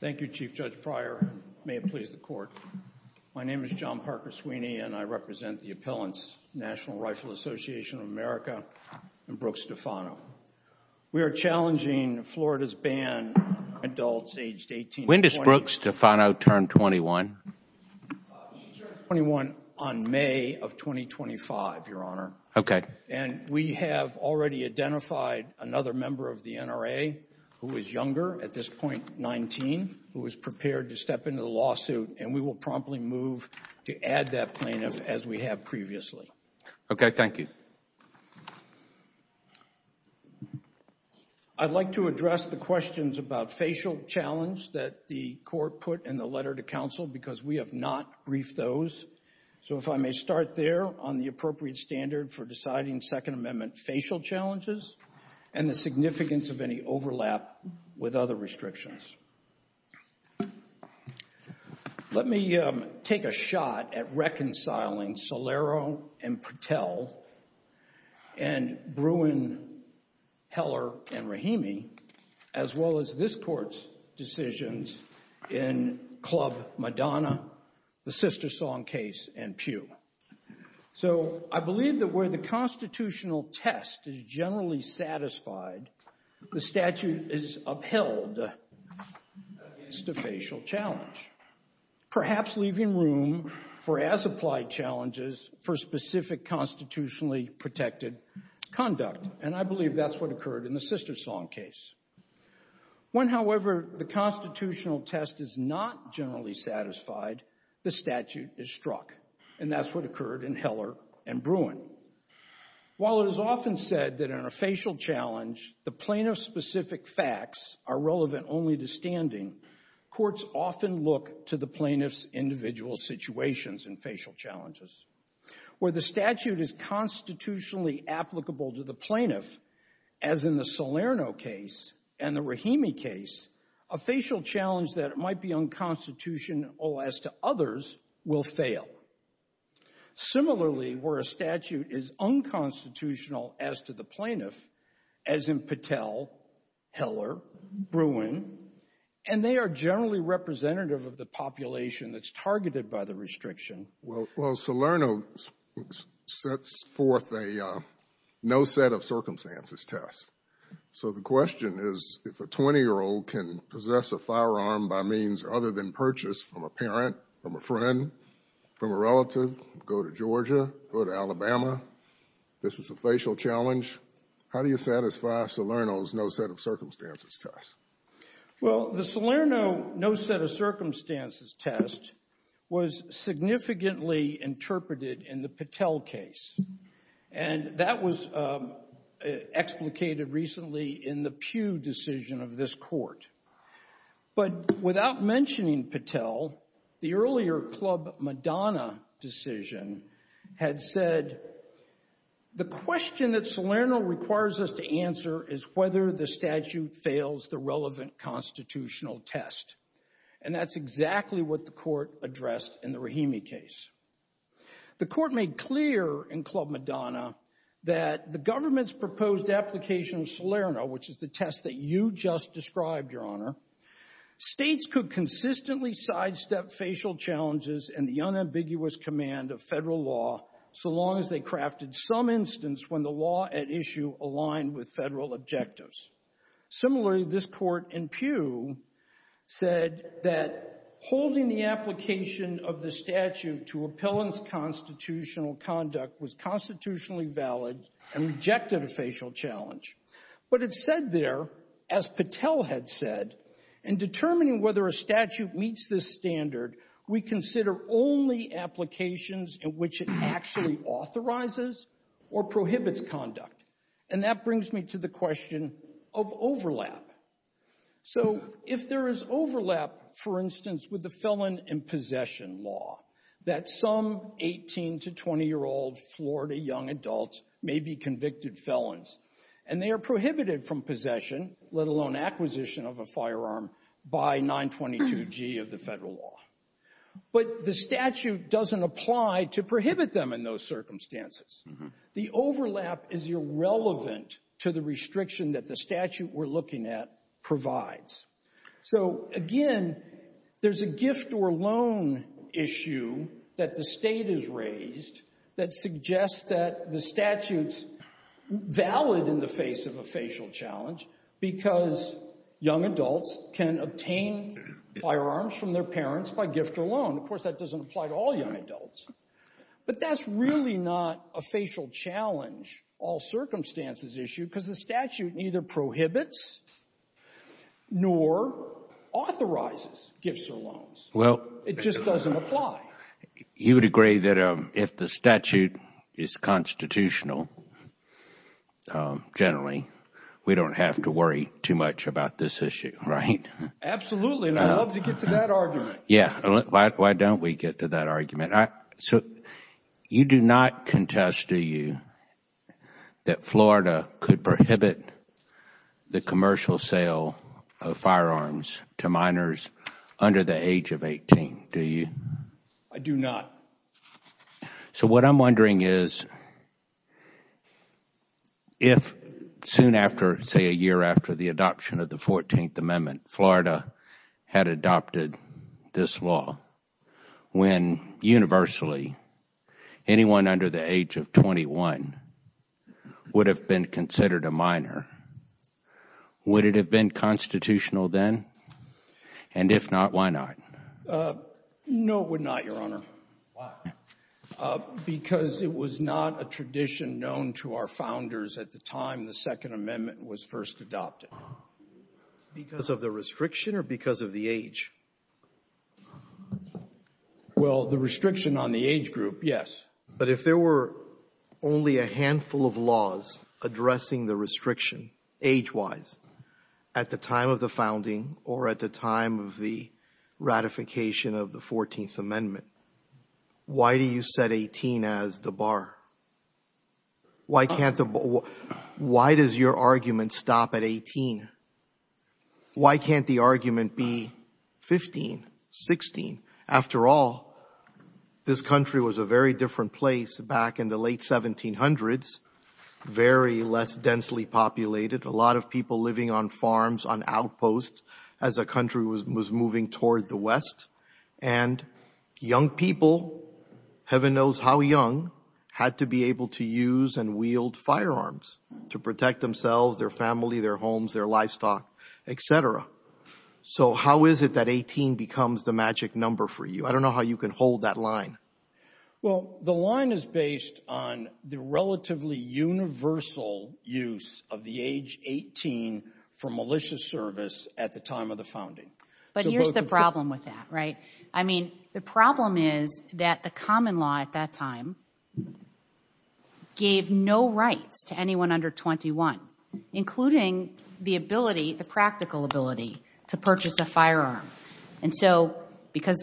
Thank you, Chief Judge Pryor. May it please the Court. My name is John Parker Sweeney and I represent the Appellants, National Rifle Association of America, and Brooke Stefano. We are challenging Florida's ban on adults aged 18 to 20. When does Brooke Stefano turn 21? She turns 21 on May of 2025, Your Honor. Okay. And we have already identified another member of the NRA who is younger, at this point 19, who is prepared to step into the lawsuit and we will promptly move to add that plaintiff as we have previously. Okay, thank you. I'd like to address the questions about facial challenge that the Court put in the letter to counsel because we have not briefed those. So if I may start there on the appropriate standard for deciding Second Amendment facial challenges and the significance of any overlap with other restrictions. Let me take a shot at reconciling Solero and Patel and Bruin, Heller, and Rahimi, as well as this Court's decisions in Club Madonna, the Sister Song case, and Pew. So I believe that where the constitutional test is generally satisfied, the statute is upheld against a facial challenge, perhaps leaving room for as-applied challenges for specific constitutionally protected conduct. And I believe that's what occurred in the Sister Song case. When, however, the constitutional test is not generally satisfied, the statute is struck. And that's what occurred in Heller and Bruin. While it is often said that in a facial challenge, the plaintiff's specific facts are relevant only to standing, courts often look to the plaintiff's individual situations in facial challenges. Where the statute is constitutionally applicable to the plaintiff, as in the Solero case and the Rahimi case, a facial challenge that might be unconstitutional as to others will fail. Similarly, where a statute is unconstitutional as to the plaintiff, as in Patel, Heller, Bruin, and they are generally representative of the population that's targeted by the restriction. Well, Solerno sets forth a no set of circumstances test. So the question is, if a 20-year-old can possess a firearm by means other than purchase from a parent, from a friend, from a relative, go to Georgia, go to Alabama, this is a facial challenge. How do you satisfy Solerno's no set of circumstances test? Well, the Solerno no set of circumstances test was significantly interpreted in the Patel case. And that was explicated recently in the Pugh decision of this court. But without mentioning Patel, the earlier Club Madonna decision had said, the question that Solerno requires us to answer is whether the statute fails the relevant constitutional test. And that's exactly what the court addressed in the Rahimi case. The court made clear in Club Madonna that the government's proposed application of Solerno, which is the test that you just described, Your Honor, states could consistently sidestep facial challenges and the unambiguous command of federal law so long as they crafted some instance when the law at issue aligned with federal objectives. Similarly, this court in Pugh said that holding the application of the statute to appellant's constitutional conduct was constitutionally valid and rejected a facial challenge. But it said there, as Patel had said, in determining whether a statute meets this standard, we consider only applications in which it actually authorizes or prohibits conduct. And that brings me to the question of overlap. So if there is overlap, for instance, with the felon in possession law, that some 18 to 20 year old Florida young adults may be convicted felons and they are prohibited from possession, let alone acquisition of a firearm by 922G of the federal law. But the statute doesn't apply to prohibit them in those circumstances. The overlap is irrelevant to the restriction that the statute we're looking at provides. So again, there's a gift or loan issue that the state has raised that suggests that the statute's valid in the face of a facial challenge because young adults can obtain firearms from their parents by gift or loan. Of course, that doesn't apply to all young adults. But that's really not a facial challenge, all circumstances issue, because the statute neither prohibits nor authorizes gifts or loans. Well, it just doesn't apply. You would agree that if the statute is constitutional, generally, we don't have to worry too much about this issue, right? Absolutely. And I'd love to get to that argument. Yeah. Why don't we get to that argument? So you do not contest, do you, that Florida could prohibit the commercial sale of firearms to minors under the age of 18? Do you? I do not. So what I'm wondering is, if soon after, say, a year after the adoption of the 14th Amendment, Florida had adopted this law, when universally anyone under the age of 21 would have been considered a minor, would it have been constitutional then? And if not, why not? No, it would not, Your Honor. Why? Because it was not a tradition known to our founders at the time the Second Amendment was first adopted. Because of the restriction or because of the age? Well, the restriction on the age group, yes. But if there were only a handful of laws addressing the restriction, age-wise, at the time of the founding or at the time of the ratification of the 14th Amendment, why do you set 18 as the bar? Why does your argument stop at 18? Why can't the argument be 15, 16? After all, this country was a very different place back in the late 1700s, very less densely populated. A lot of people living on farms, on outposts, as a country was moving toward the West. And young people, heaven knows how young, had to be able to use and wield firearms to protect themselves, their family, their homes, their livestock, et cetera. So how is it that 18 becomes the magic number for you? I don't know how you can hold that line. Well, the line is based on the relatively universal use of the age 18 for malicious service at the time of the founding. But here's the problem with that, right? I mean, the problem is that the common law at that time gave no rights to anyone under 21, including the ability, the practical ability, to purchase a firearm. And so, because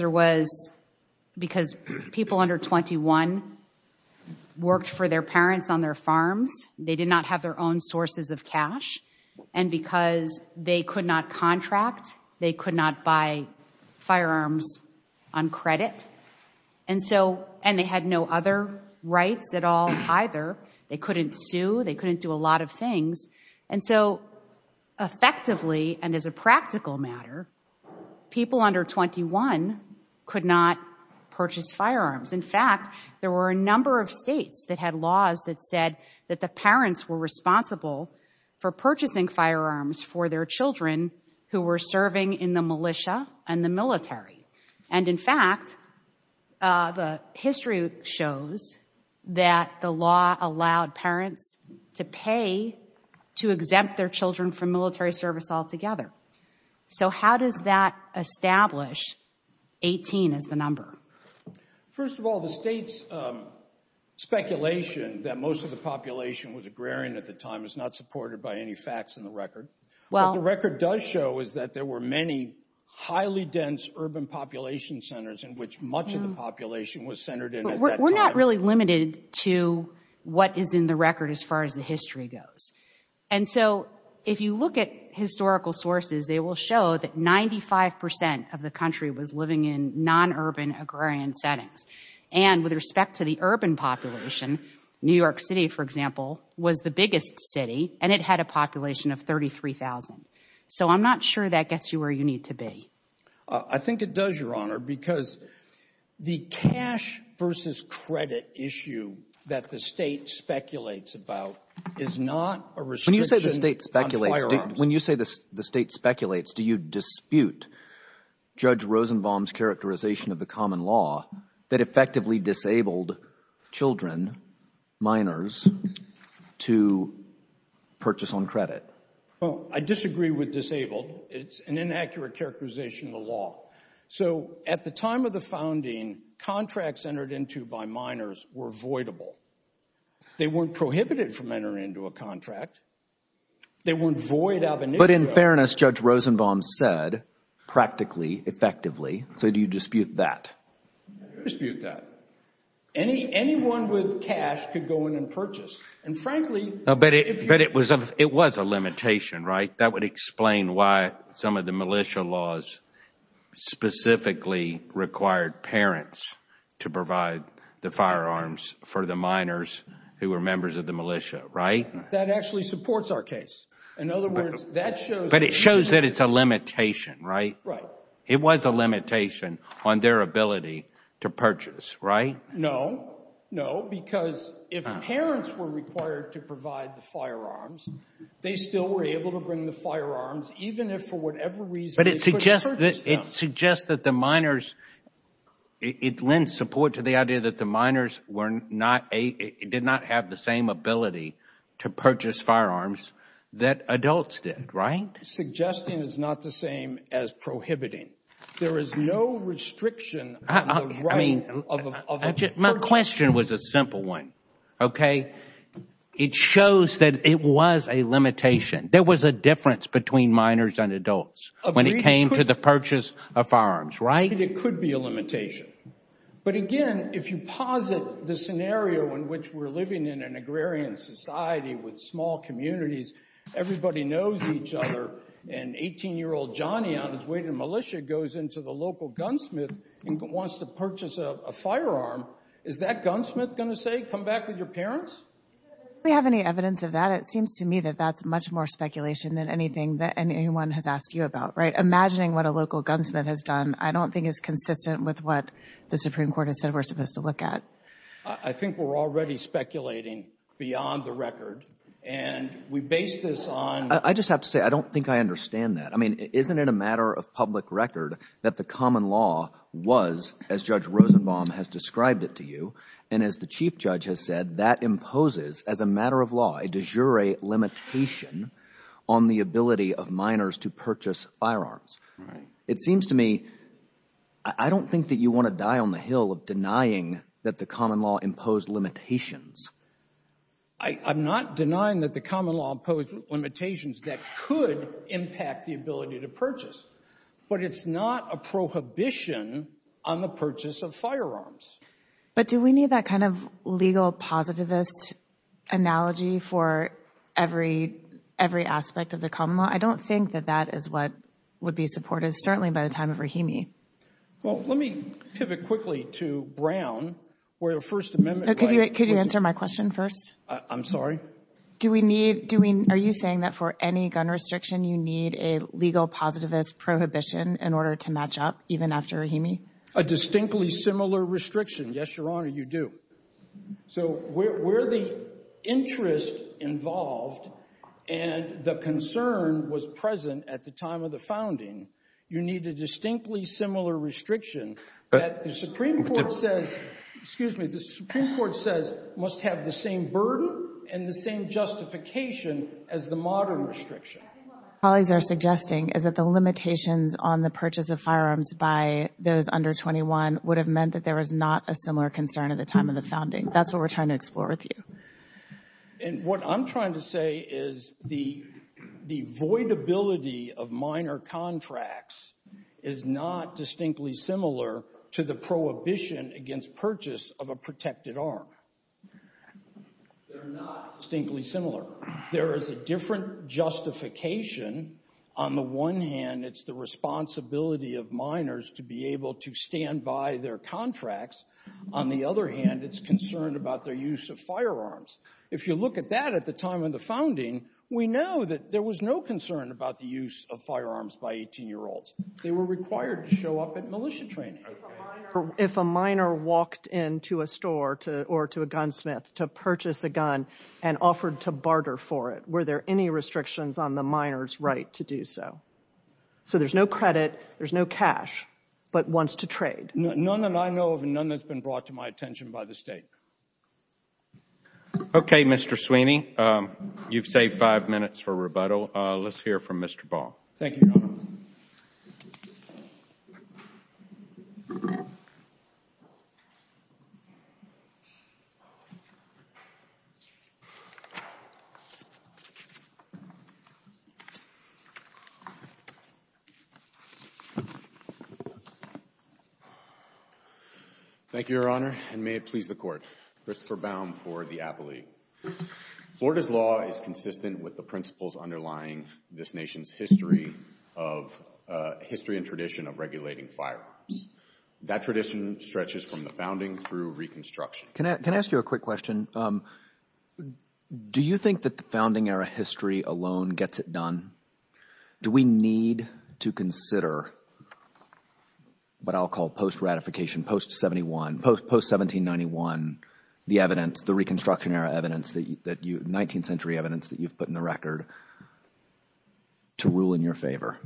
people under 21 worked for their parents on their farms, they did not have their own sources of cash. And because they could not contract, they could not buy firearms on credit. And they had no other rights at all either. They couldn't sue. They couldn't do a lot of things. And so, effectively, and as a practical matter, people under 21 could not purchase firearms. In fact, there were a number of states that had laws that said that the parents were responsible for purchasing firearms for their children who were serving in the militia and the military. And in fact, the history shows that the law allowed parents to pay to exempt their children from military service altogether. So, how does that establish 18 as the number? First of all, the state's speculation that most of the population was agrarian at the time is not supported by any facts in the record. What the record does show is that there were many highly dense urban population centers in which much of the population was centered in at that time. We're not really limited to what is in the record as far as the history goes. And so, if you look at historical sources, they will show that 95% of the country was living in non-urban agrarian settings. And with respect to the urban population, New York City, for example, was the biggest city and it had a population of 33,000. So I'm not sure that gets you where you need to be. I think it does, Your Honor, because the cash versus credit issue that the state speculates about is not a restriction on firearms. When you say the state speculates, do you dispute Judge Rosenbaum's characterization of the common law that effectively disabled children, minors, to purchase on credit? Well, I disagree with disabled. It's an inaccurate characterization of the law. So, at the time of the founding, contracts entered into by minors were voidable. They weren't prohibited from entering into a contract. They weren't void out of initiative. But in fairness, Judge Rosenbaum said, practically, effectively. So do you dispute that? I dispute that. Any anyone with cash could go in and purchase. And frankly... No, but it was a limitation, right? That would explain why some of the militia laws specifically required parents to provide the firearms for the minors who were members of the militia, right? That actually supports our case. In other words, that shows... But it shows that it's a limitation, right? Right. It was a limitation on their ability to purchase, right? No, no. Because if parents were required to provide the firearms, they still were able to bring the firearms, even if for whatever reason... But it suggests that the minors... It lends support to the idea that the minors did not have the same ability to purchase firearms that adults did, right? Suggesting is not the same as prohibiting. There is no restriction on the right of a person... My question was a simple one, okay? It shows that it was a limitation. There was a difference between minors and adults when it came to the purchase of firearms, right? It could be a limitation. But again, if you posit the scenario in which we're living in an agrarian society with small communities, everybody knows each other, and 18-year-old Johnny, on his way to militia, goes into the local gunsmith and wants to purchase a firearm, is that gunsmith going to say, come back with your parents? Do we have any evidence of that? It seems to me that that's much more speculation than anything that anyone has asked you about, right? Imagining what a local gunsmith has done, I don't think is consistent with what the Supreme Court has said we're supposed to look at. I think we're already speculating beyond the record, and we base this on... I just have to say, I don't think I understand that. I mean, isn't it a matter of public record that the common law was, as Judge Rosenbaum has described it to you, and as the Chief Judge has said, that imposes, as a matter of law, a de jure limitation on the ability of minors to purchase firearms. It seems to me, I don't think that you want to die on the hill of denying that the common law imposed limitations. I'm not denying that the common law imposed limitations that could impact the ability to purchase, but it's not a prohibition on the purchase of firearms. But do we need that kind of legal positivist analogy for every aspect of the common law? I don't think that that is what would be supported, certainly by the time of Rahimi. Well, let me pivot quickly to Brown, where the First Amendment... Could you answer my question first? I'm sorry? Are you saying that for any gun restriction, you need a legal positivist prohibition in order to match up, even after Rahimi? A distinctly similar restriction. Yes, Your Honor, you do. So where the interest involved and the concern was present at the time of the founding, you need a distinctly similar restriction that the Supreme Court says, excuse me, the Supreme Court says must have the same burden and the same justification as the modern restriction. I think what my colleagues are suggesting is that the limitations on the purchase of firearms by those under 21 would have meant that there was not a similar concern at the founding. That's what we're trying to explore with you. And what I'm trying to say is the voidability of minor contracts is not distinctly similar to the prohibition against purchase of a protected arm. They're not distinctly similar. There is a different justification. On the one hand, it's the responsibility of minors to be able to stand by their contracts. On the other hand, it's concerned about their use of firearms. If you look at that at the time of the founding, we know that there was no concern about the use of firearms by 18-year-olds. They were required to show up at militia training. If a minor walked into a store or to a gunsmith to purchase a gun and offered to barter for it, were there any restrictions on the minor's right to do so? So there's no credit, there's no cash, but wants to trade. None that I know of and none that's been brought to my attention by the state. Okay, Mr. Sweeney, you've saved five minutes for rebuttal. Let's hear from Mr. Ball. Thank you, Your Honor. Thank you, Your Honor, and may it please the Court. Christopher Baum for the Appellee. Florida's law is consistent with the principles underlying this nation's history of, uh, history and tradition of regulating firearms. That tradition stretches from the founding through reconstruction. Can I, can I ask you a quick question? Do you think that the founding era history alone gets it done? Do we need to consider what I'll call post-ratification, post-'71, post-1791, the evidence, the reconstruction era evidence that you, 19th century evidence that you've put in the record to rule in your favor?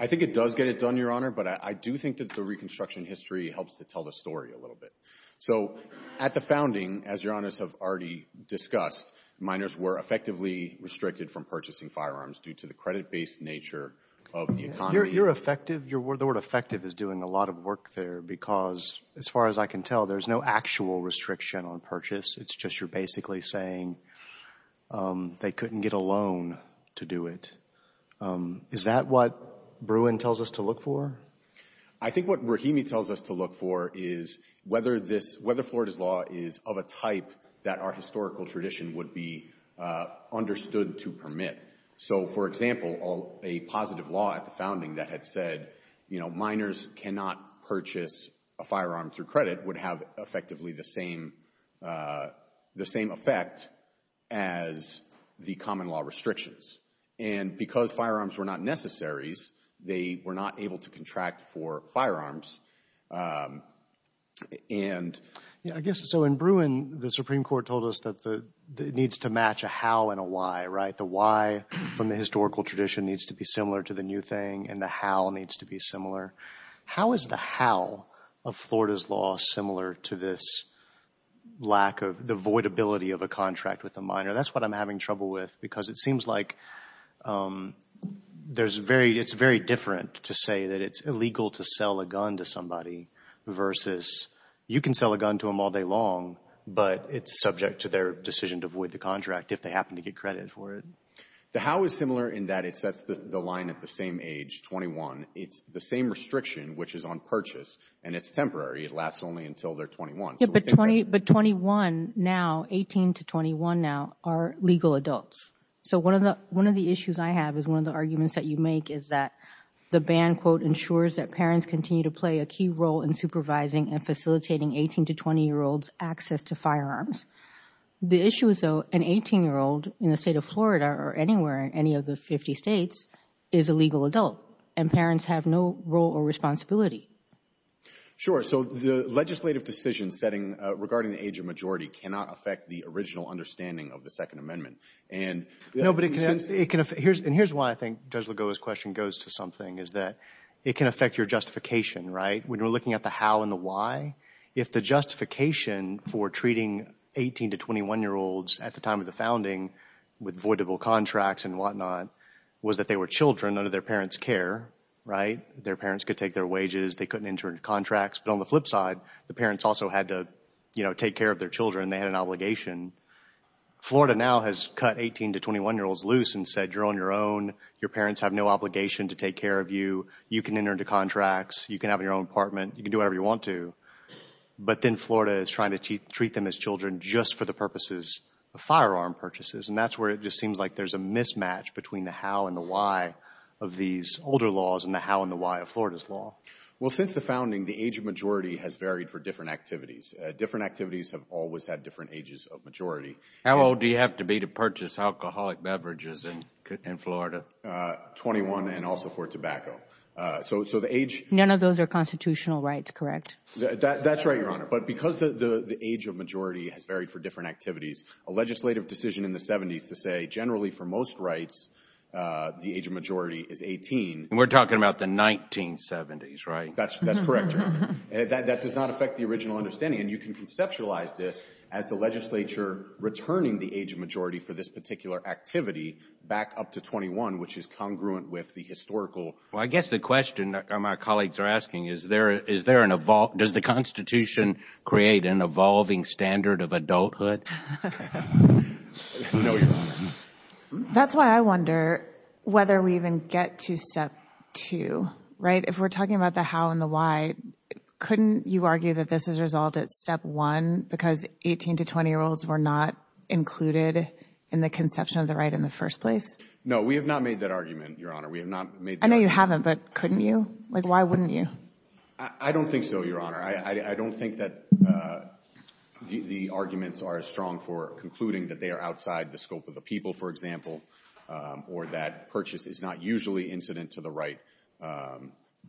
I think it does get it done, Your Honor, but I do think that the reconstruction history helps to tell the story a little bit. So at the founding, as Your Honors have already discussed, minors were effectively restricted from purchasing firearms due to the credit-based nature of the economy. You're effective. The word effective is doing a lot of work there because, as far as I can tell, there's no actual restriction on purchase. It's just you're basically saying they couldn't get a loan to do it. Is that what Bruin tells us to look for? I think what Rahimi tells us to look for is whether this, whether Florida's law is of a type that our historical tradition would be understood to permit. So, for example, a positive law at the founding that had said, you know, minors cannot purchase a firearm through credit would have effectively the same effect as the common law restrictions. And because firearms were not necessaries, they were not able to contract for firearms. I guess, so in Bruin, the Supreme Court told us that it needs to match a how and a why, right? The why from the historical tradition needs to be similar to the new thing, and the how needs to be similar. How is the how of Florida's law similar to this lack of, the voidability of a contract with a minor? That's what I'm having trouble with because it seems like there's very, it's very different to say that it's illegal to sell a gun to somebody versus you can sell a gun to them all day long, but it's subject to their decision to void the contract if they happen to get credit for it. The how is similar in that it sets the line at the same age, 21. It's the same restriction, which is on purchase, and it's temporary. It lasts only until they're 21. But 21 now, 18 to 21 now, are legal adults. So one of the issues I have is one of the arguments that you make is that the ban, quote, ensures that parents continue to play a key role in supervising and facilitating 18 to 20-year-olds' access to firearms. The issue is, though, an 18-year-old in the state of Florida or anywhere in any of the 50 states is a legal adult, and parents have no role or responsibility. Sure. So the legislative decision setting regarding the age of majority cannot affect the original understanding of the Second Amendment. No, but it can affect—and here's why I think Judge Lugo's question goes to something, is that it can affect your justification, right? When we're looking at the how and the why, if the justification for treating 18 to 21-year-olds at the time of the founding with voidable contracts and whatnot was that they were children under their parents' care, right? Their parents could take their wages. They couldn't enter into contracts. But on the flip side, the parents also had to, you know, take care of their children. They had an obligation. Florida now has cut 18 to 21-year-olds loose and said, you're on your own. Your parents have no obligation to take care of you. You can enter into contracts. You can have your own apartment. You can do whatever you want to. But then Florida is trying to treat them as children just for the purposes of firearm purchases. And that's where it just seems like there's a mismatch between the how and the why of these older laws and the how and the why of Florida's law. Well, since the founding, the age of majority has varied for different activities. Different activities have always had different ages of majority. How old do you have to be to purchase alcoholic beverages in Florida? 21 and also for tobacco. So the age... None of those are constitutional rights, correct? That's right, Your Honor. But because the age of majority has varied for different activities, a legislative decision in the 70s to say generally for most rights, the age of majority is 18. We're talking about the 1970s, right? That's correct, Your Honor. That does not affect the original understanding. You can conceptualize this as the legislature returning the age of majority for this particular activity back up to 21, which is congruent with the historical... Well, I guess the question my colleagues are asking is, does the Constitution create an evolving standard of adulthood? That's why I wonder whether we even get to step two, right? If we're talking about the how and the why, couldn't you argue that this has evolved at step one because 18 to 20-year-olds were not included in the conception of the right in the first place? No, we have not made that argument, Your Honor. We have not made... I know you haven't, but couldn't you? Why wouldn't you? I don't think so, Your Honor. I don't think that the arguments are as strong for concluding that they are outside the scope of the people, for example, or that purchase is not usually incident to the right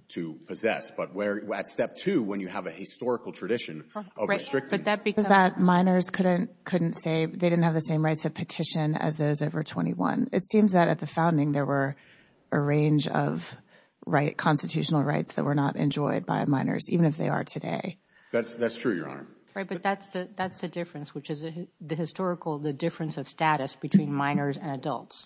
to possess. But at step two, when you have a historical tradition of restricting... Right, but that's because minors couldn't say they didn't have the same rights of petition as those over 21. It seems that at the founding, there were a range of constitutional rights that were not enjoyed by minors, even if they are today. That's true, Your Honor. Right, but that's the difference, which is the historical, the difference of status between minors and adults,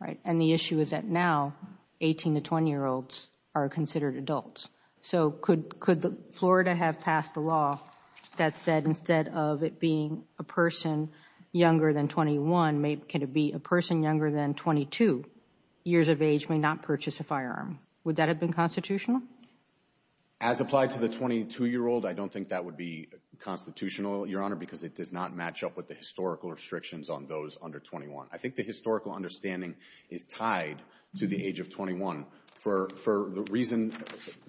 right? And the issue is that now 18 to 20-year-olds are considered adults. So could Florida have passed a law that said instead of it being a person younger than 21, can it be a person younger than 22 years of age may not purchase a firearm? Would that have been constitutional? As applied to the 22-year-old, I don't think that would be constitutional, Your Honor, because it does not match up with the historical restrictions on those under 21. I think the historical understanding is tied to the age of 21 for the reason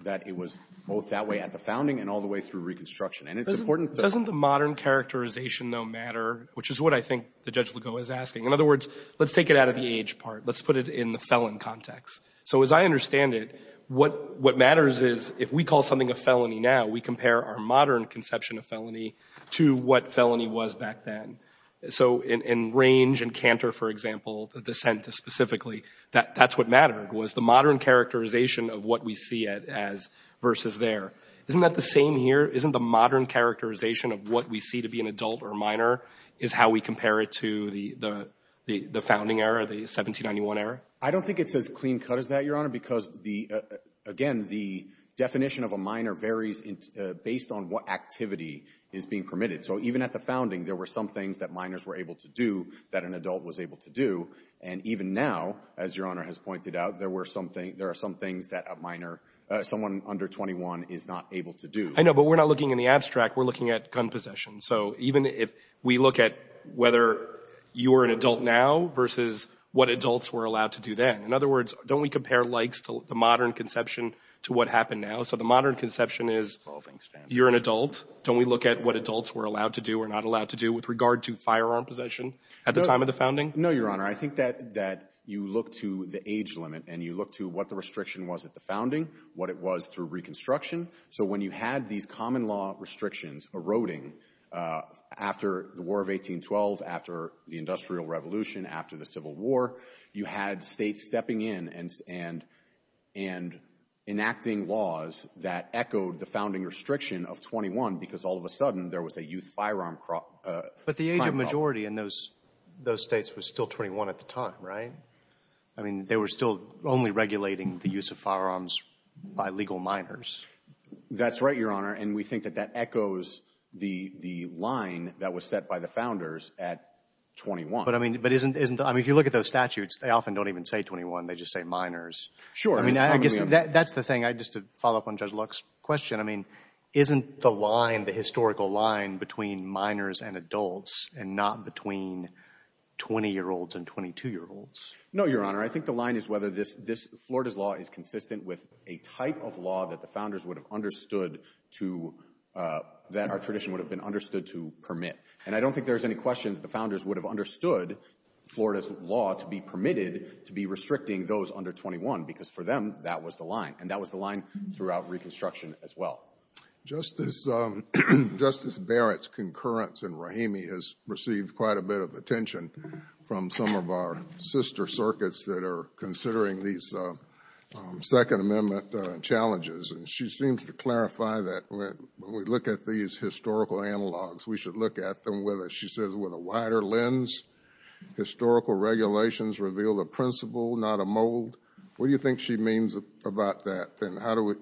that it was both that way at the founding and all the way through Reconstruction. And it's important to... Doesn't the modern characterization, though, matter, which is what I think the Judge Ligo is asking? In other words, let's take it out of the age part. Let's put it in the felon context. So as I understand it, what matters is if we call something a felony now, we compare our modern conception of felony to what felony was back then. So in range and canter, for example, the dissent specifically, that's what mattered, was the modern characterization of what we see it as versus there. Isn't that the same here? Isn't the modern characterization of what we see to be an adult or minor is how we compare it to the founding era, the 1791 era? I don't think it's as clean cut as that, Your Honor, because, again, the definition of a minor varies based on what activity is being permitted. So even at the founding, there were some things that minors were able to do that an adult was able to do. And even now, as Your Honor has pointed out, there are some things that a minor, someone under 21 is not able to do. I know, but we're not looking in the abstract. We're looking at gun possession. So even if we look at whether you are an adult now versus what adults were allowed to do then. In other words, don't we compare likes to the modern conception to what happened now? So the modern conception is you're an adult. Don't we look at what adults were allowed to do or not allowed to do with regard to firearm possession at the time of the founding? No, Your Honor. I think that you look to the age limit and you look to what the restriction was at the founding, what it was through Reconstruction. So when you had these common law restrictions eroding after the War of 1812, after the Industrial Revolution, after the Civil War, you had states stepping in and enacting laws that echoed the founding restriction of 21 because all of a sudden there was a youth firearm crime problem. But the age of majority in those states was still 21 at the time, right? I mean, they were still only regulating the use of firearms by legal minors. That's right, Your Honor. And we think that that echoes the line that was set by the founders at 21. But I mean, if you look at those statutes, they often don't even say 21. They just say minors. Sure. That's the thing, just to follow up on Judge Locke's question. I mean, isn't the line, the historical line between minors and adults and not between 20-year-olds and 22-year-olds? No, Your Honor. I think the line is whether Florida's law is consistent with a type of law that the founders would have understood to, that our tradition would have been understood to permit. And I don't think there's any question that the founders would have understood Florida's to be permitted to be restricting those under 21, because for them, that was the line. And that was the line throughout Reconstruction as well. Justice Barrett's concurrence in Rahimi has received quite a bit of attention from some of our sister circuits that are considering these Second Amendment challenges. And she seems to clarify that when we look at these historical analogs, we should look at them with a, she says, with a wider lens. Historical regulations reveal the principle, not a mold. What do you think she means about that? And how do we,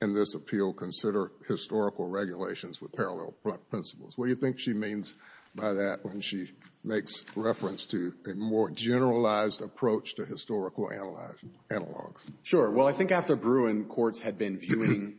in this appeal, consider historical regulations with parallel principles? What do you think she means by that when she makes reference to a more generalized approach to historical analogs? Sure. Well, I think after Bruin, courts had been viewing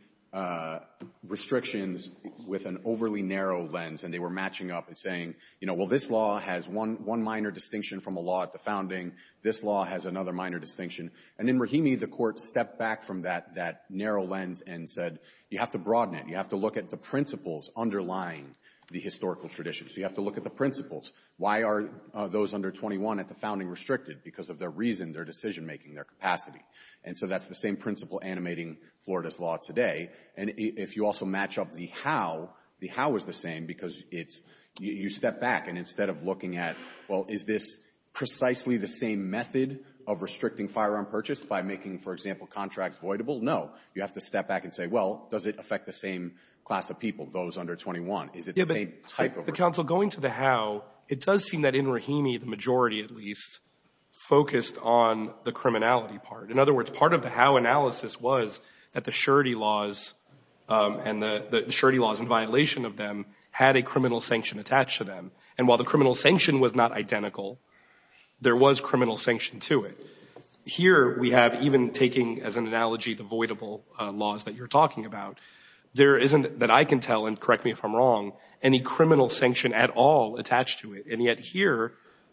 restrictions with an overly narrow lens, and they were matching up and saying, you know, well, this law has one minor distinction from a law at the founding. This law has another minor distinction. And in Rahimi, the court stepped back from that narrow lens and said, you have to broaden it. You have to look at the principles underlying the historical tradition. So you have to look at the principles. Why are those under 21 at the founding restricted? Because of their reason, their decision making, their capacity. And so that's the same principle animating Florida's law today. And if you also match up the how, the how is the same, because you step back. And instead of looking at, well, is this precisely the same method of restricting firearm purchase by making, for example, contracts voidable? No. You have to step back and say, well, does it affect the same class of people, those under 21? Is it the same type of— The counsel going to the how, it does seem that in Rahimi, the majority, at least, focused on the criminality part. In other words, part of the how analysis was that the surety laws and the surety laws in violation of them had a criminal sanction attached to them. And while the criminal sanction was not identical, there was criminal sanction to it. Here we have, even taking as an analogy the voidable laws that you're talking about, there isn't, that I can tell, and correct me if I'm wrong, any criminal sanction at all attached to it. And yet here,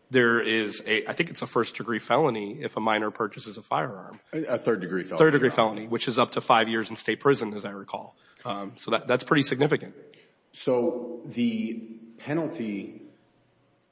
there is a, I think it's a first-degree felony if a minor purchases a firearm. A third-degree felony. Third-degree felony, which is up to five years in state prison, as I recall. So that's pretty significant. So the penalty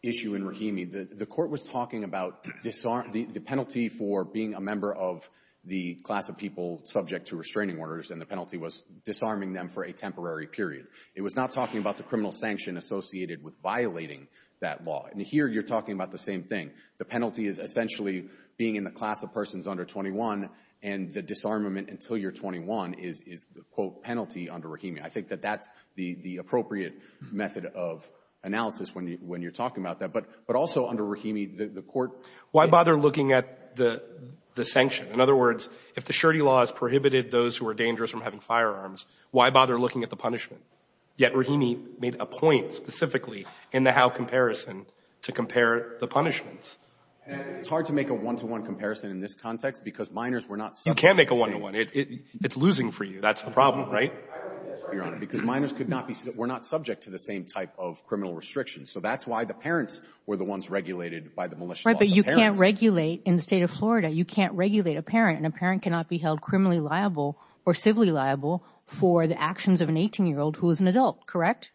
issue in Rahimi, the court was talking about the penalty for being a member of the class of people subject to restraining orders, and the penalty was disarming them for a temporary period. It was not talking about the criminal sanction associated with violating that law. And here, you're talking about the same thing. The penalty is essentially being in the class of persons under 21, and the disarmament until you're 21 is the, quote, penalty under Rahimi. I think that that's the appropriate method of analysis when you're talking about that. But also under Rahimi, the court — Why bother looking at the sanction? In other words, if the surety law has prohibited those who are dangerous from having firearms, why bother looking at the punishment? Yet Rahimi made a point specifically in the Howe comparison to compare the punishments. It's hard to make a one-to-one comparison in this context because minors were not — You can make a one-to-one. It's losing for you. That's the problem, right? Because minors could not be — were not subject to the same type of criminal restrictions. So that's why the parents were the ones regulated by the militia. Right, but you can't regulate — in the state of Florida, you can't regulate a parent, and a parent cannot be held criminally liable or civilly liable for the actions of an 18-year-old who is an adult, correct?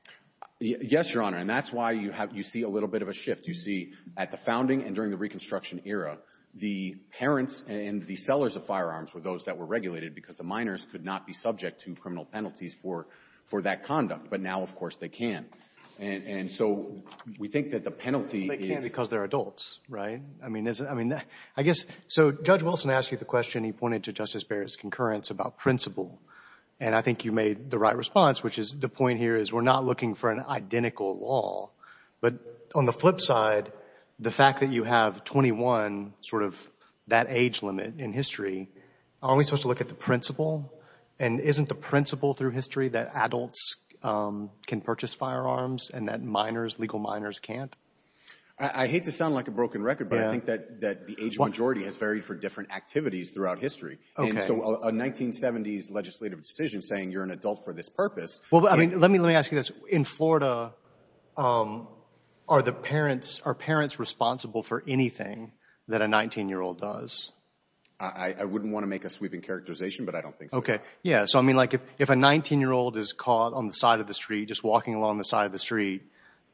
Yes, Your Honor. And that's why you have — you see a little bit of a shift. You see at the founding and during the Reconstruction era, the parents and the sellers of firearms were those that were regulated because the minors could not be subject to criminal penalties for that conduct. But now, of course, they can. And so we think that the penalty is — They can because they're adults, right? I mean, isn't — I mean, I guess — so Judge Wilson asked you the question. He pointed to Justice Barrett's concurrence about principle. And I think you made the right response, which is the point here is we're not looking for an identical law. But on the flip side, the fact that you have 21, sort of that age limit in history, aren't we supposed to look at the principle? And isn't the principle through history that adults can purchase firearms and that minors, legal minors, can't? I hate to sound like a broken record, but I think that the age majority has varied for different activities throughout history. So a 1970s legislative decision saying you're an adult for this purpose — Well, I mean, let me ask you this. In Florida, are the parents — are parents responsible for anything that a 19-year-old does? I wouldn't want to make a sweeping characterization, but I don't think so. OK. Yeah. So, I mean, like, if a 19-year-old is caught on the side of the street, just walking along the side of the street,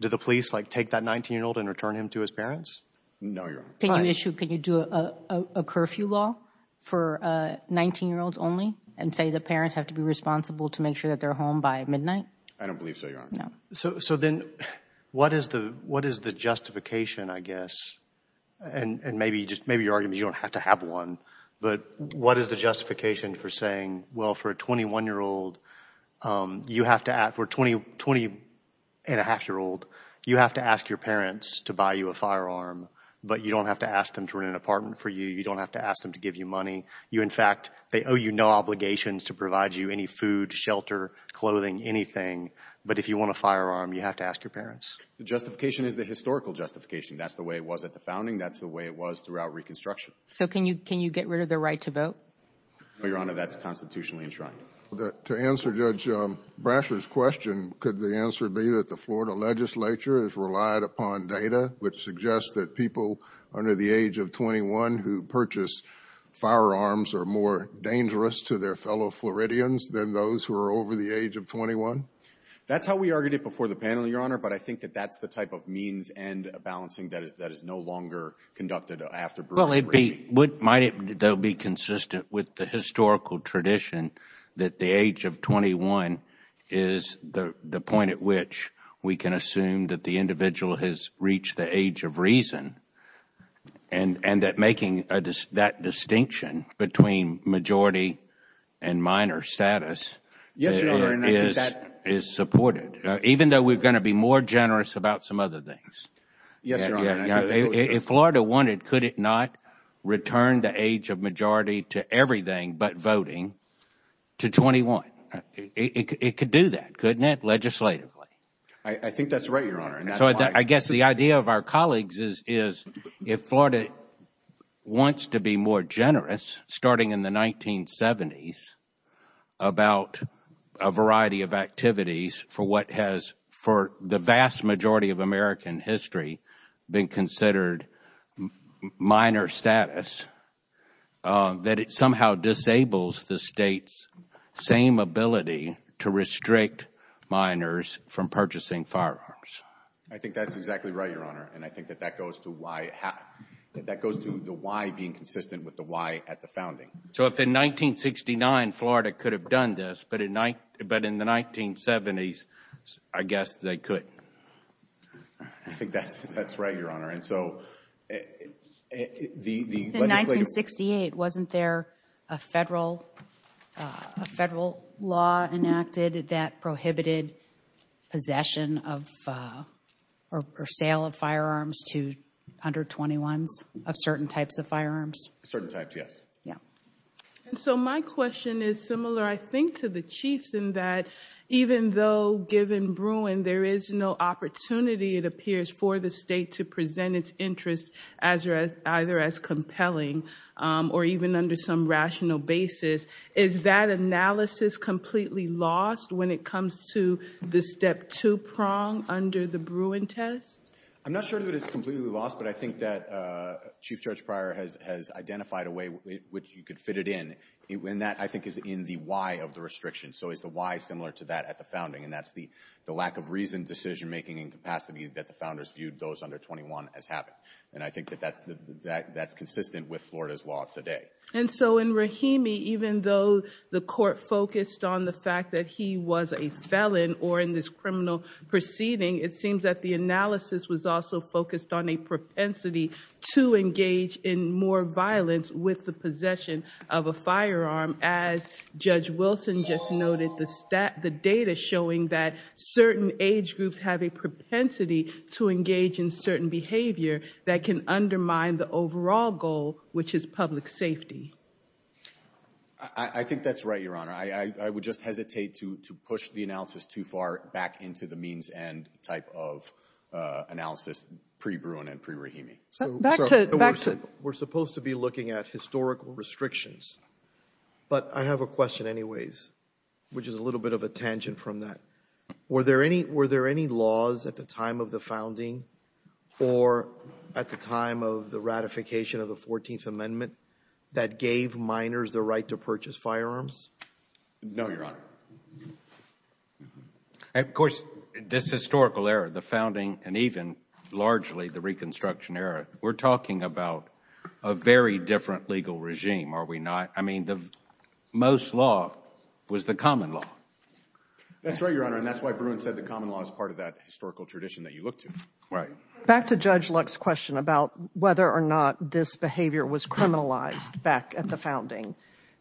do the police, like, take that 19-year-old and return him to his parents? No, Your Honor. Can you do a curfew law for 19-year-olds only and say the parents have to be responsible to make sure that they're home by midnight? I don't believe so, Your Honor. No. So then what is the justification, I guess — and maybe your argument is you don't have to have one — but what is the justification for saying, well, for a 21-year-old, you have to — for a 20-and-a-half-year-old, you have to ask your parents to buy you a firearm, but you don't have to ask them to rent an apartment for you. You don't have to ask them to give you money. You, in fact — they owe you no obligations to provide you any food, shelter, clothing, anything. But if you want a firearm, you have to ask your parents. The justification is the historical justification. That's the way it was at the founding. That's the way it was throughout Reconstruction. So can you get rid of the right to vote? No, Your Honor. That's constitutionally enshrined. To answer Judge Brasher's question, could the answer be that the Florida legislature has relied upon data which suggests that people under the age of 21 who purchase firearms are more dangerous to their fellow Floridians than those who are over the age of 21? That's how we argued it before the panel, Your Honor, but I think that that's the type of means-end balancing that is no longer conducted after Brewer's regime. Well, it would — might it, though, be consistent with the historical tradition that the age of 21 is the point at which we can assume that the individual has reached the age of reason and that making that distinction between majority and minor status is supported, even though we're going to be more generous about some other things? Yes, Your Honor. If Florida wanted, could it not return the age of majority to everything but voting to 21? It could do that, couldn't it, legislatively? I think that's right, Your Honor, and that's why — I guess the idea of our colleagues is if Florida wants to be more generous, starting in the 1970s, about a variety of activities for what has, for the vast majority of American history, been considered minor status, that it somehow disables the state's same ability to restrict minors from purchasing firearms. I think that's exactly right, Your Honor, and I think that that goes to why — that goes to the why being consistent with the why at the founding. So if in 1969, Florida could have done this, but in the 1970s, I guess they couldn't. I think that's right, Your Honor, and so the — In 1968, wasn't there a federal law enacted that prohibited possession of, or sale of firearms to under-21s of certain types of firearms? Certain types, yes. Yeah. And so my question is similar, I think, to the Chief's in that even though, given Bruin, there is no opportunity, it appears, for the state to present its interests either as compelling or even under some rational basis, is that analysis completely lost when it comes to the step two prong under the Bruin test? I'm not sure that it's completely lost, but I think that Chief Judge Pryor has identified a way which you could fit it in, and that, I think, is in the why of the restriction. So it's the why similar to that at the founding, and that's the lack of reason, decision-making, and capacity that the founders viewed those under 21 as having. And I think that that's consistent with Florida's law today. And so in Rahimi, even though the court focused on the fact that he was a felon, or in this criminal proceeding, it seems that the analysis was also focused on a propensity to engage in more violence with the possession of a firearm, as Judge Wilson just noted, the data showing that certain age groups have a propensity to engage in certain behavior that can undermine the overall goal, which is public safety. I think that's right, Your Honor. I would just hesitate to push the analysis too far back into the means and type of analysis pre-Bruin and pre-Rahimi. We're supposed to be looking at historical restrictions, but I have a question anyways, which is a little bit of a tangent from that. Were there any laws at the time of the founding or at the time of the ratification of the 14th Amendment that gave minors the right to purchase firearms? No, Your Honor. Of course, this historical era, the founding, and even largely the Reconstruction era, we're talking about a very different legal regime, are we not? I mean, the most law was the common law. That's right, Your Honor, and that's why Bruin said the common law is part of that historical tradition that you look to. Right. Back to Judge Luck's question about whether or not this behavior was criminalized back at the founding,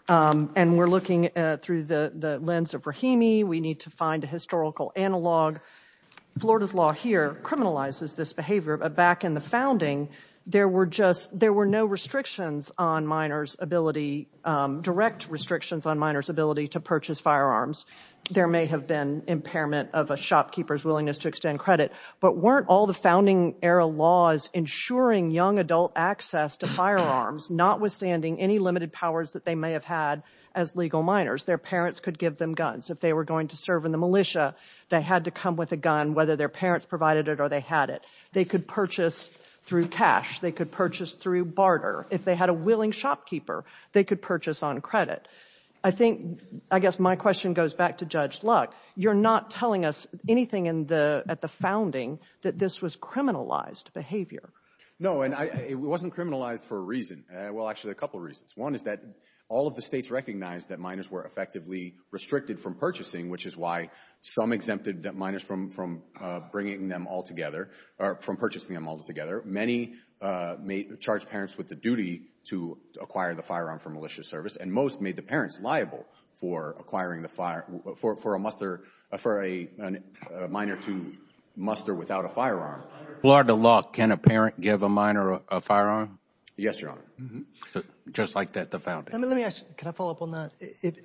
and we're looking through the lens of Rahimi, we need to find a historical analog. Florida's law here criminalizes this behavior, but back in the founding, there were no restrictions on minors' ability, direct restrictions on minors' ability to purchase firearms. There may have been impairment of a shopkeeper's willingness to extend credit, but weren't all the founding era laws ensuring young adult access to firearms, notwithstanding any limited powers that they may have had as legal minors? Their parents could give them guns if they were going to serve in the militia. They had to come with a gun, whether their parents provided it or they had it. They could purchase through cash. They could purchase through barter. If they had a willing shopkeeper, they could purchase on credit. I think, I guess my question goes back to Judge Luck. You're not telling us anything at the founding that this was criminalized behavior. No, and it wasn't criminalized for a reason. Well, actually, a couple of reasons. One is that all of the states recognized that minors were effectively restricted from purchasing, which is why some exempted minors from bringing them all together, or from purchasing them all together. Many charged parents with the duty to acquire the firearm for militia service, and most made the parents liable for a minor to muster without a firearm. Lord of Luck, can a parent give a minor a firearm? Yes, Your Honor. Just like the founding. Let me ask, can I follow up on that?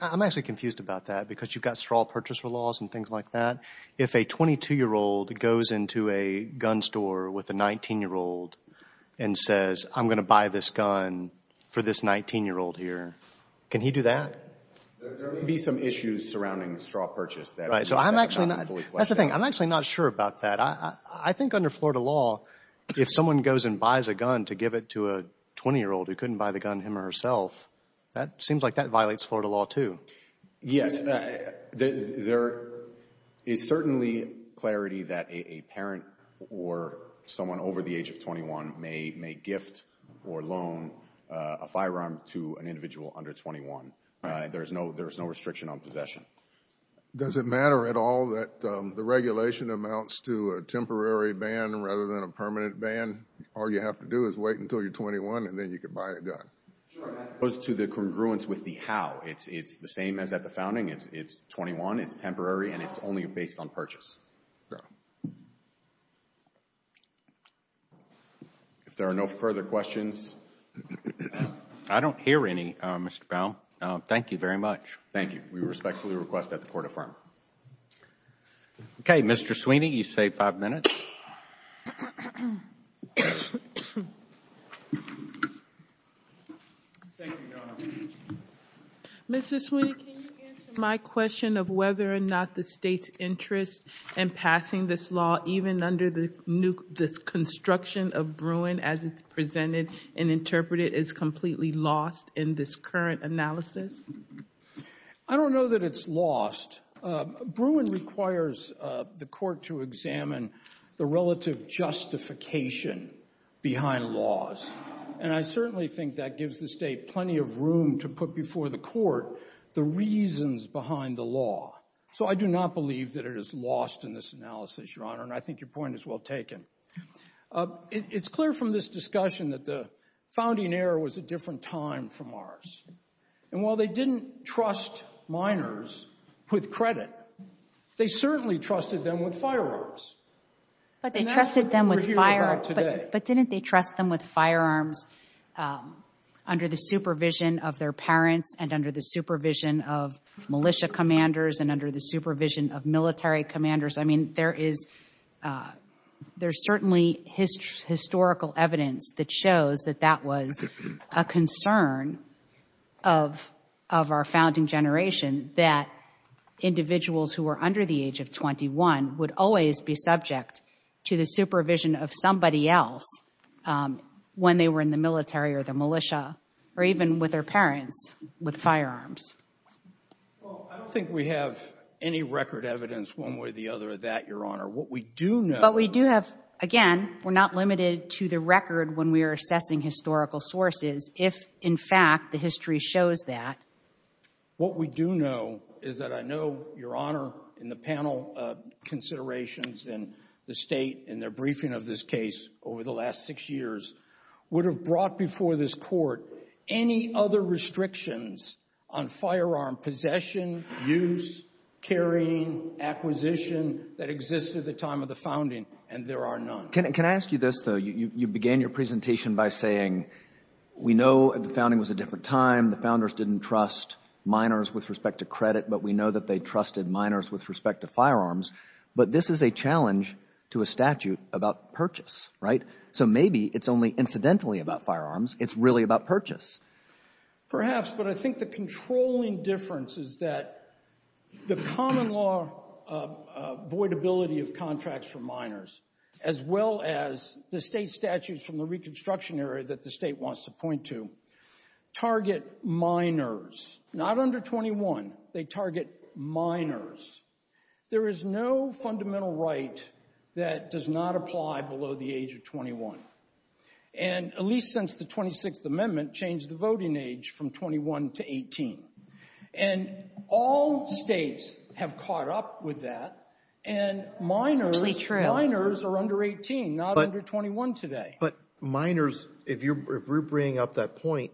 I'm actually confused about that, because you've got straw purchaser laws and things like that. If a 22-year-old goes into a gun store with a 19-year-old and says, I'm going to buy this gun for this 19-year-old here, can he do that? There may be some issues surrounding straw purchase. Right, so I'm actually not, that's the thing, I'm actually not sure about that. I think under Florida law, if someone goes and buys a gun to give it to a 20-year-old who couldn't buy the gun him or herself, that seems like that violates Florida law too. Yes, there is certainly clarity that a parent or someone over the age of 21 may gift or loan a firearm to an individual under 21. There's no restriction on possession. Does it matter at all that the regulation amounts to a temporary ban rather than a permanent ban? All you have to do is wait until you're 21 and then you can buy a gun. Sure, as opposed to the congruence with the how. It's the same as at the founding. It's 21, it's temporary, and it's only based on purchase. If there are no further questions. I don't hear any, Mr. Powell. Thank you very much. Thank you. We respectfully request that the Court affirm. Okay, Mr. Sweeney, you've saved five minutes. Thank you, Your Honor. Mr. Sweeney, can you answer my question of whether or not the state's interest in passing this law, even under this construction of Bruin as it's presented and interpreted, is completely lost in this current analysis? I don't know that it's lost. Bruin requires the Court to examine the relative justification behind laws, and I certainly think that gives the state plenty of room to put before the Court the reasons behind the law. So I do not believe that it is lost in this analysis, Your Honor, and I think your point is well taken. It's clear from this discussion that the founding era was a different time from ours, and while they didn't trust minors with credit, they certainly trusted them with But didn't they trust them with firearms under the supervision of their parents and under the supervision of militia commanders and under the supervision of military commanders? I mean, there is certainly historical evidence that shows that that was a concern of our founding generation, that individuals who were under the age of 21 would always be subject to the supervision of somebody else when they were in the military or the militia or even with their parents with firearms. Well, I don't think we have any record evidence one way or the other of that, Your Honor. What we do know— But we do have, again, we're not limited to the record when we are assessing historical sources if, in fact, the history shows that. What we do know is that I know, Your Honor, in the panel considerations and the state in their briefing of this case over the last six years would have brought before this court any other restrictions on firearm possession, use, carrying, acquisition that exist at the time of the founding, and there are none. Can I ask you this, though? You began your presentation by saying, we know the founding was a different time. The founders didn't trust miners with respect to credit, but we know that they trusted miners with respect to firearms. But this is a challenge to a statute about purchase, right? So maybe it's only incidentally about firearms. It's really about purchase. Perhaps, but I think the controlling difference is that the common law avoidability of contracts for miners, as well as the state statutes from the reconstruction area that the state wants to point to, target miners, not under 21. They target miners. There is no fundamental right that does not apply below the age of 21, and at least since the 26th Amendment changed the voting age from 21 to 18, and all states have caught up with that, and miners are under 18, not under 21 today. But miners, if you're bringing up that point,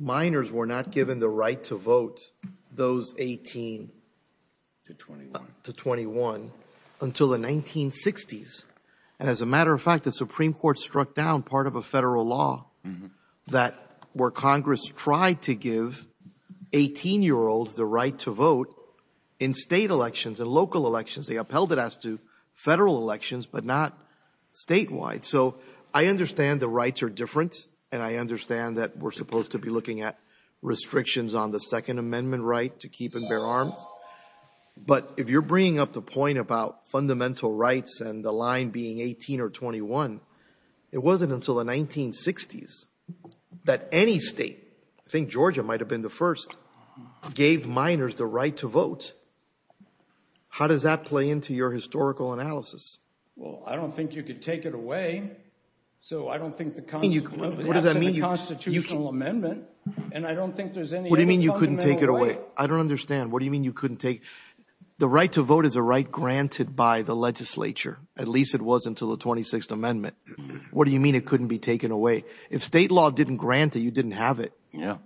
miners were not given the right to vote those 18 to 21 until the 1960s. And as a matter of fact, the Supreme Court struck down part of a federal law where Congress tried to give 18-year-olds the right to vote in state elections and local elections. They upheld it as to federal elections, but not statewide. So I understand the rights are different, and I understand that we're supposed to be looking at restrictions on the Second Amendment right to keep and bear arms. But if you're bringing up the point about fundamental rights and the line being 18 or 21, it wasn't until the 1960s that any state, I think Georgia might have been the first, gave miners the right to vote. How does that play into your historical analysis? Well, I don't think you could take it away. So I don't think the Constitutional Amendment, and I don't think there's any other fundamental right. What do you mean you couldn't take it away? I don't understand. What do you mean you couldn't take, the right to vote is a right granted by the legislature, at least it was until the 26th Amendment. What do you mean it couldn't be taken away? If state law didn't grant it, you didn't have it. Yeah.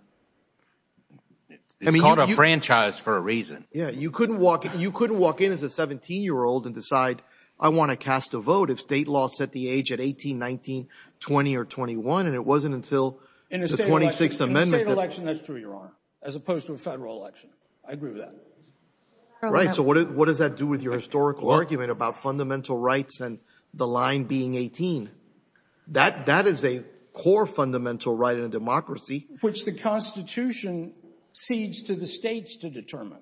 It's called a franchise for a reason. Yeah, you couldn't walk in as a 17-year-old and decide, I want to cast a vote if state law set the age at 18, 19, 20, or 21, and it wasn't until the 26th Amendment. In a state election, that's true, Your Honor, as opposed to a federal election. I agree with that. Right, so what does that do with your historical argument about fundamental rights and the line being 18? That is a core fundamental right in a democracy. Which the Constitution cedes to the states to determine.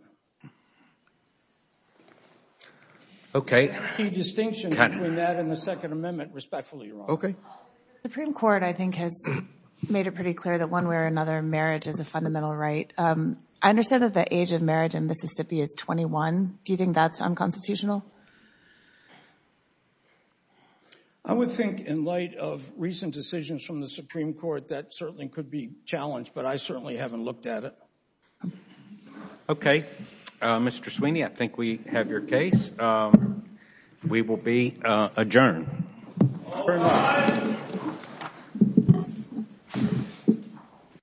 Okay. The distinction between that and the Second Amendment, respectfully, Your Honor. Okay. The Supreme Court, I think, has made it pretty clear that one way or another, marriage is a fundamental right. I understand that the age of marriage in Mississippi is 21. Do you think that's unconstitutional? I would think, in light of recent decisions from the Supreme Court, that certainly could be challenged, but I certainly haven't looked at it. Okay. Mr. Sweeney, I think we have your case. We will be adjourned.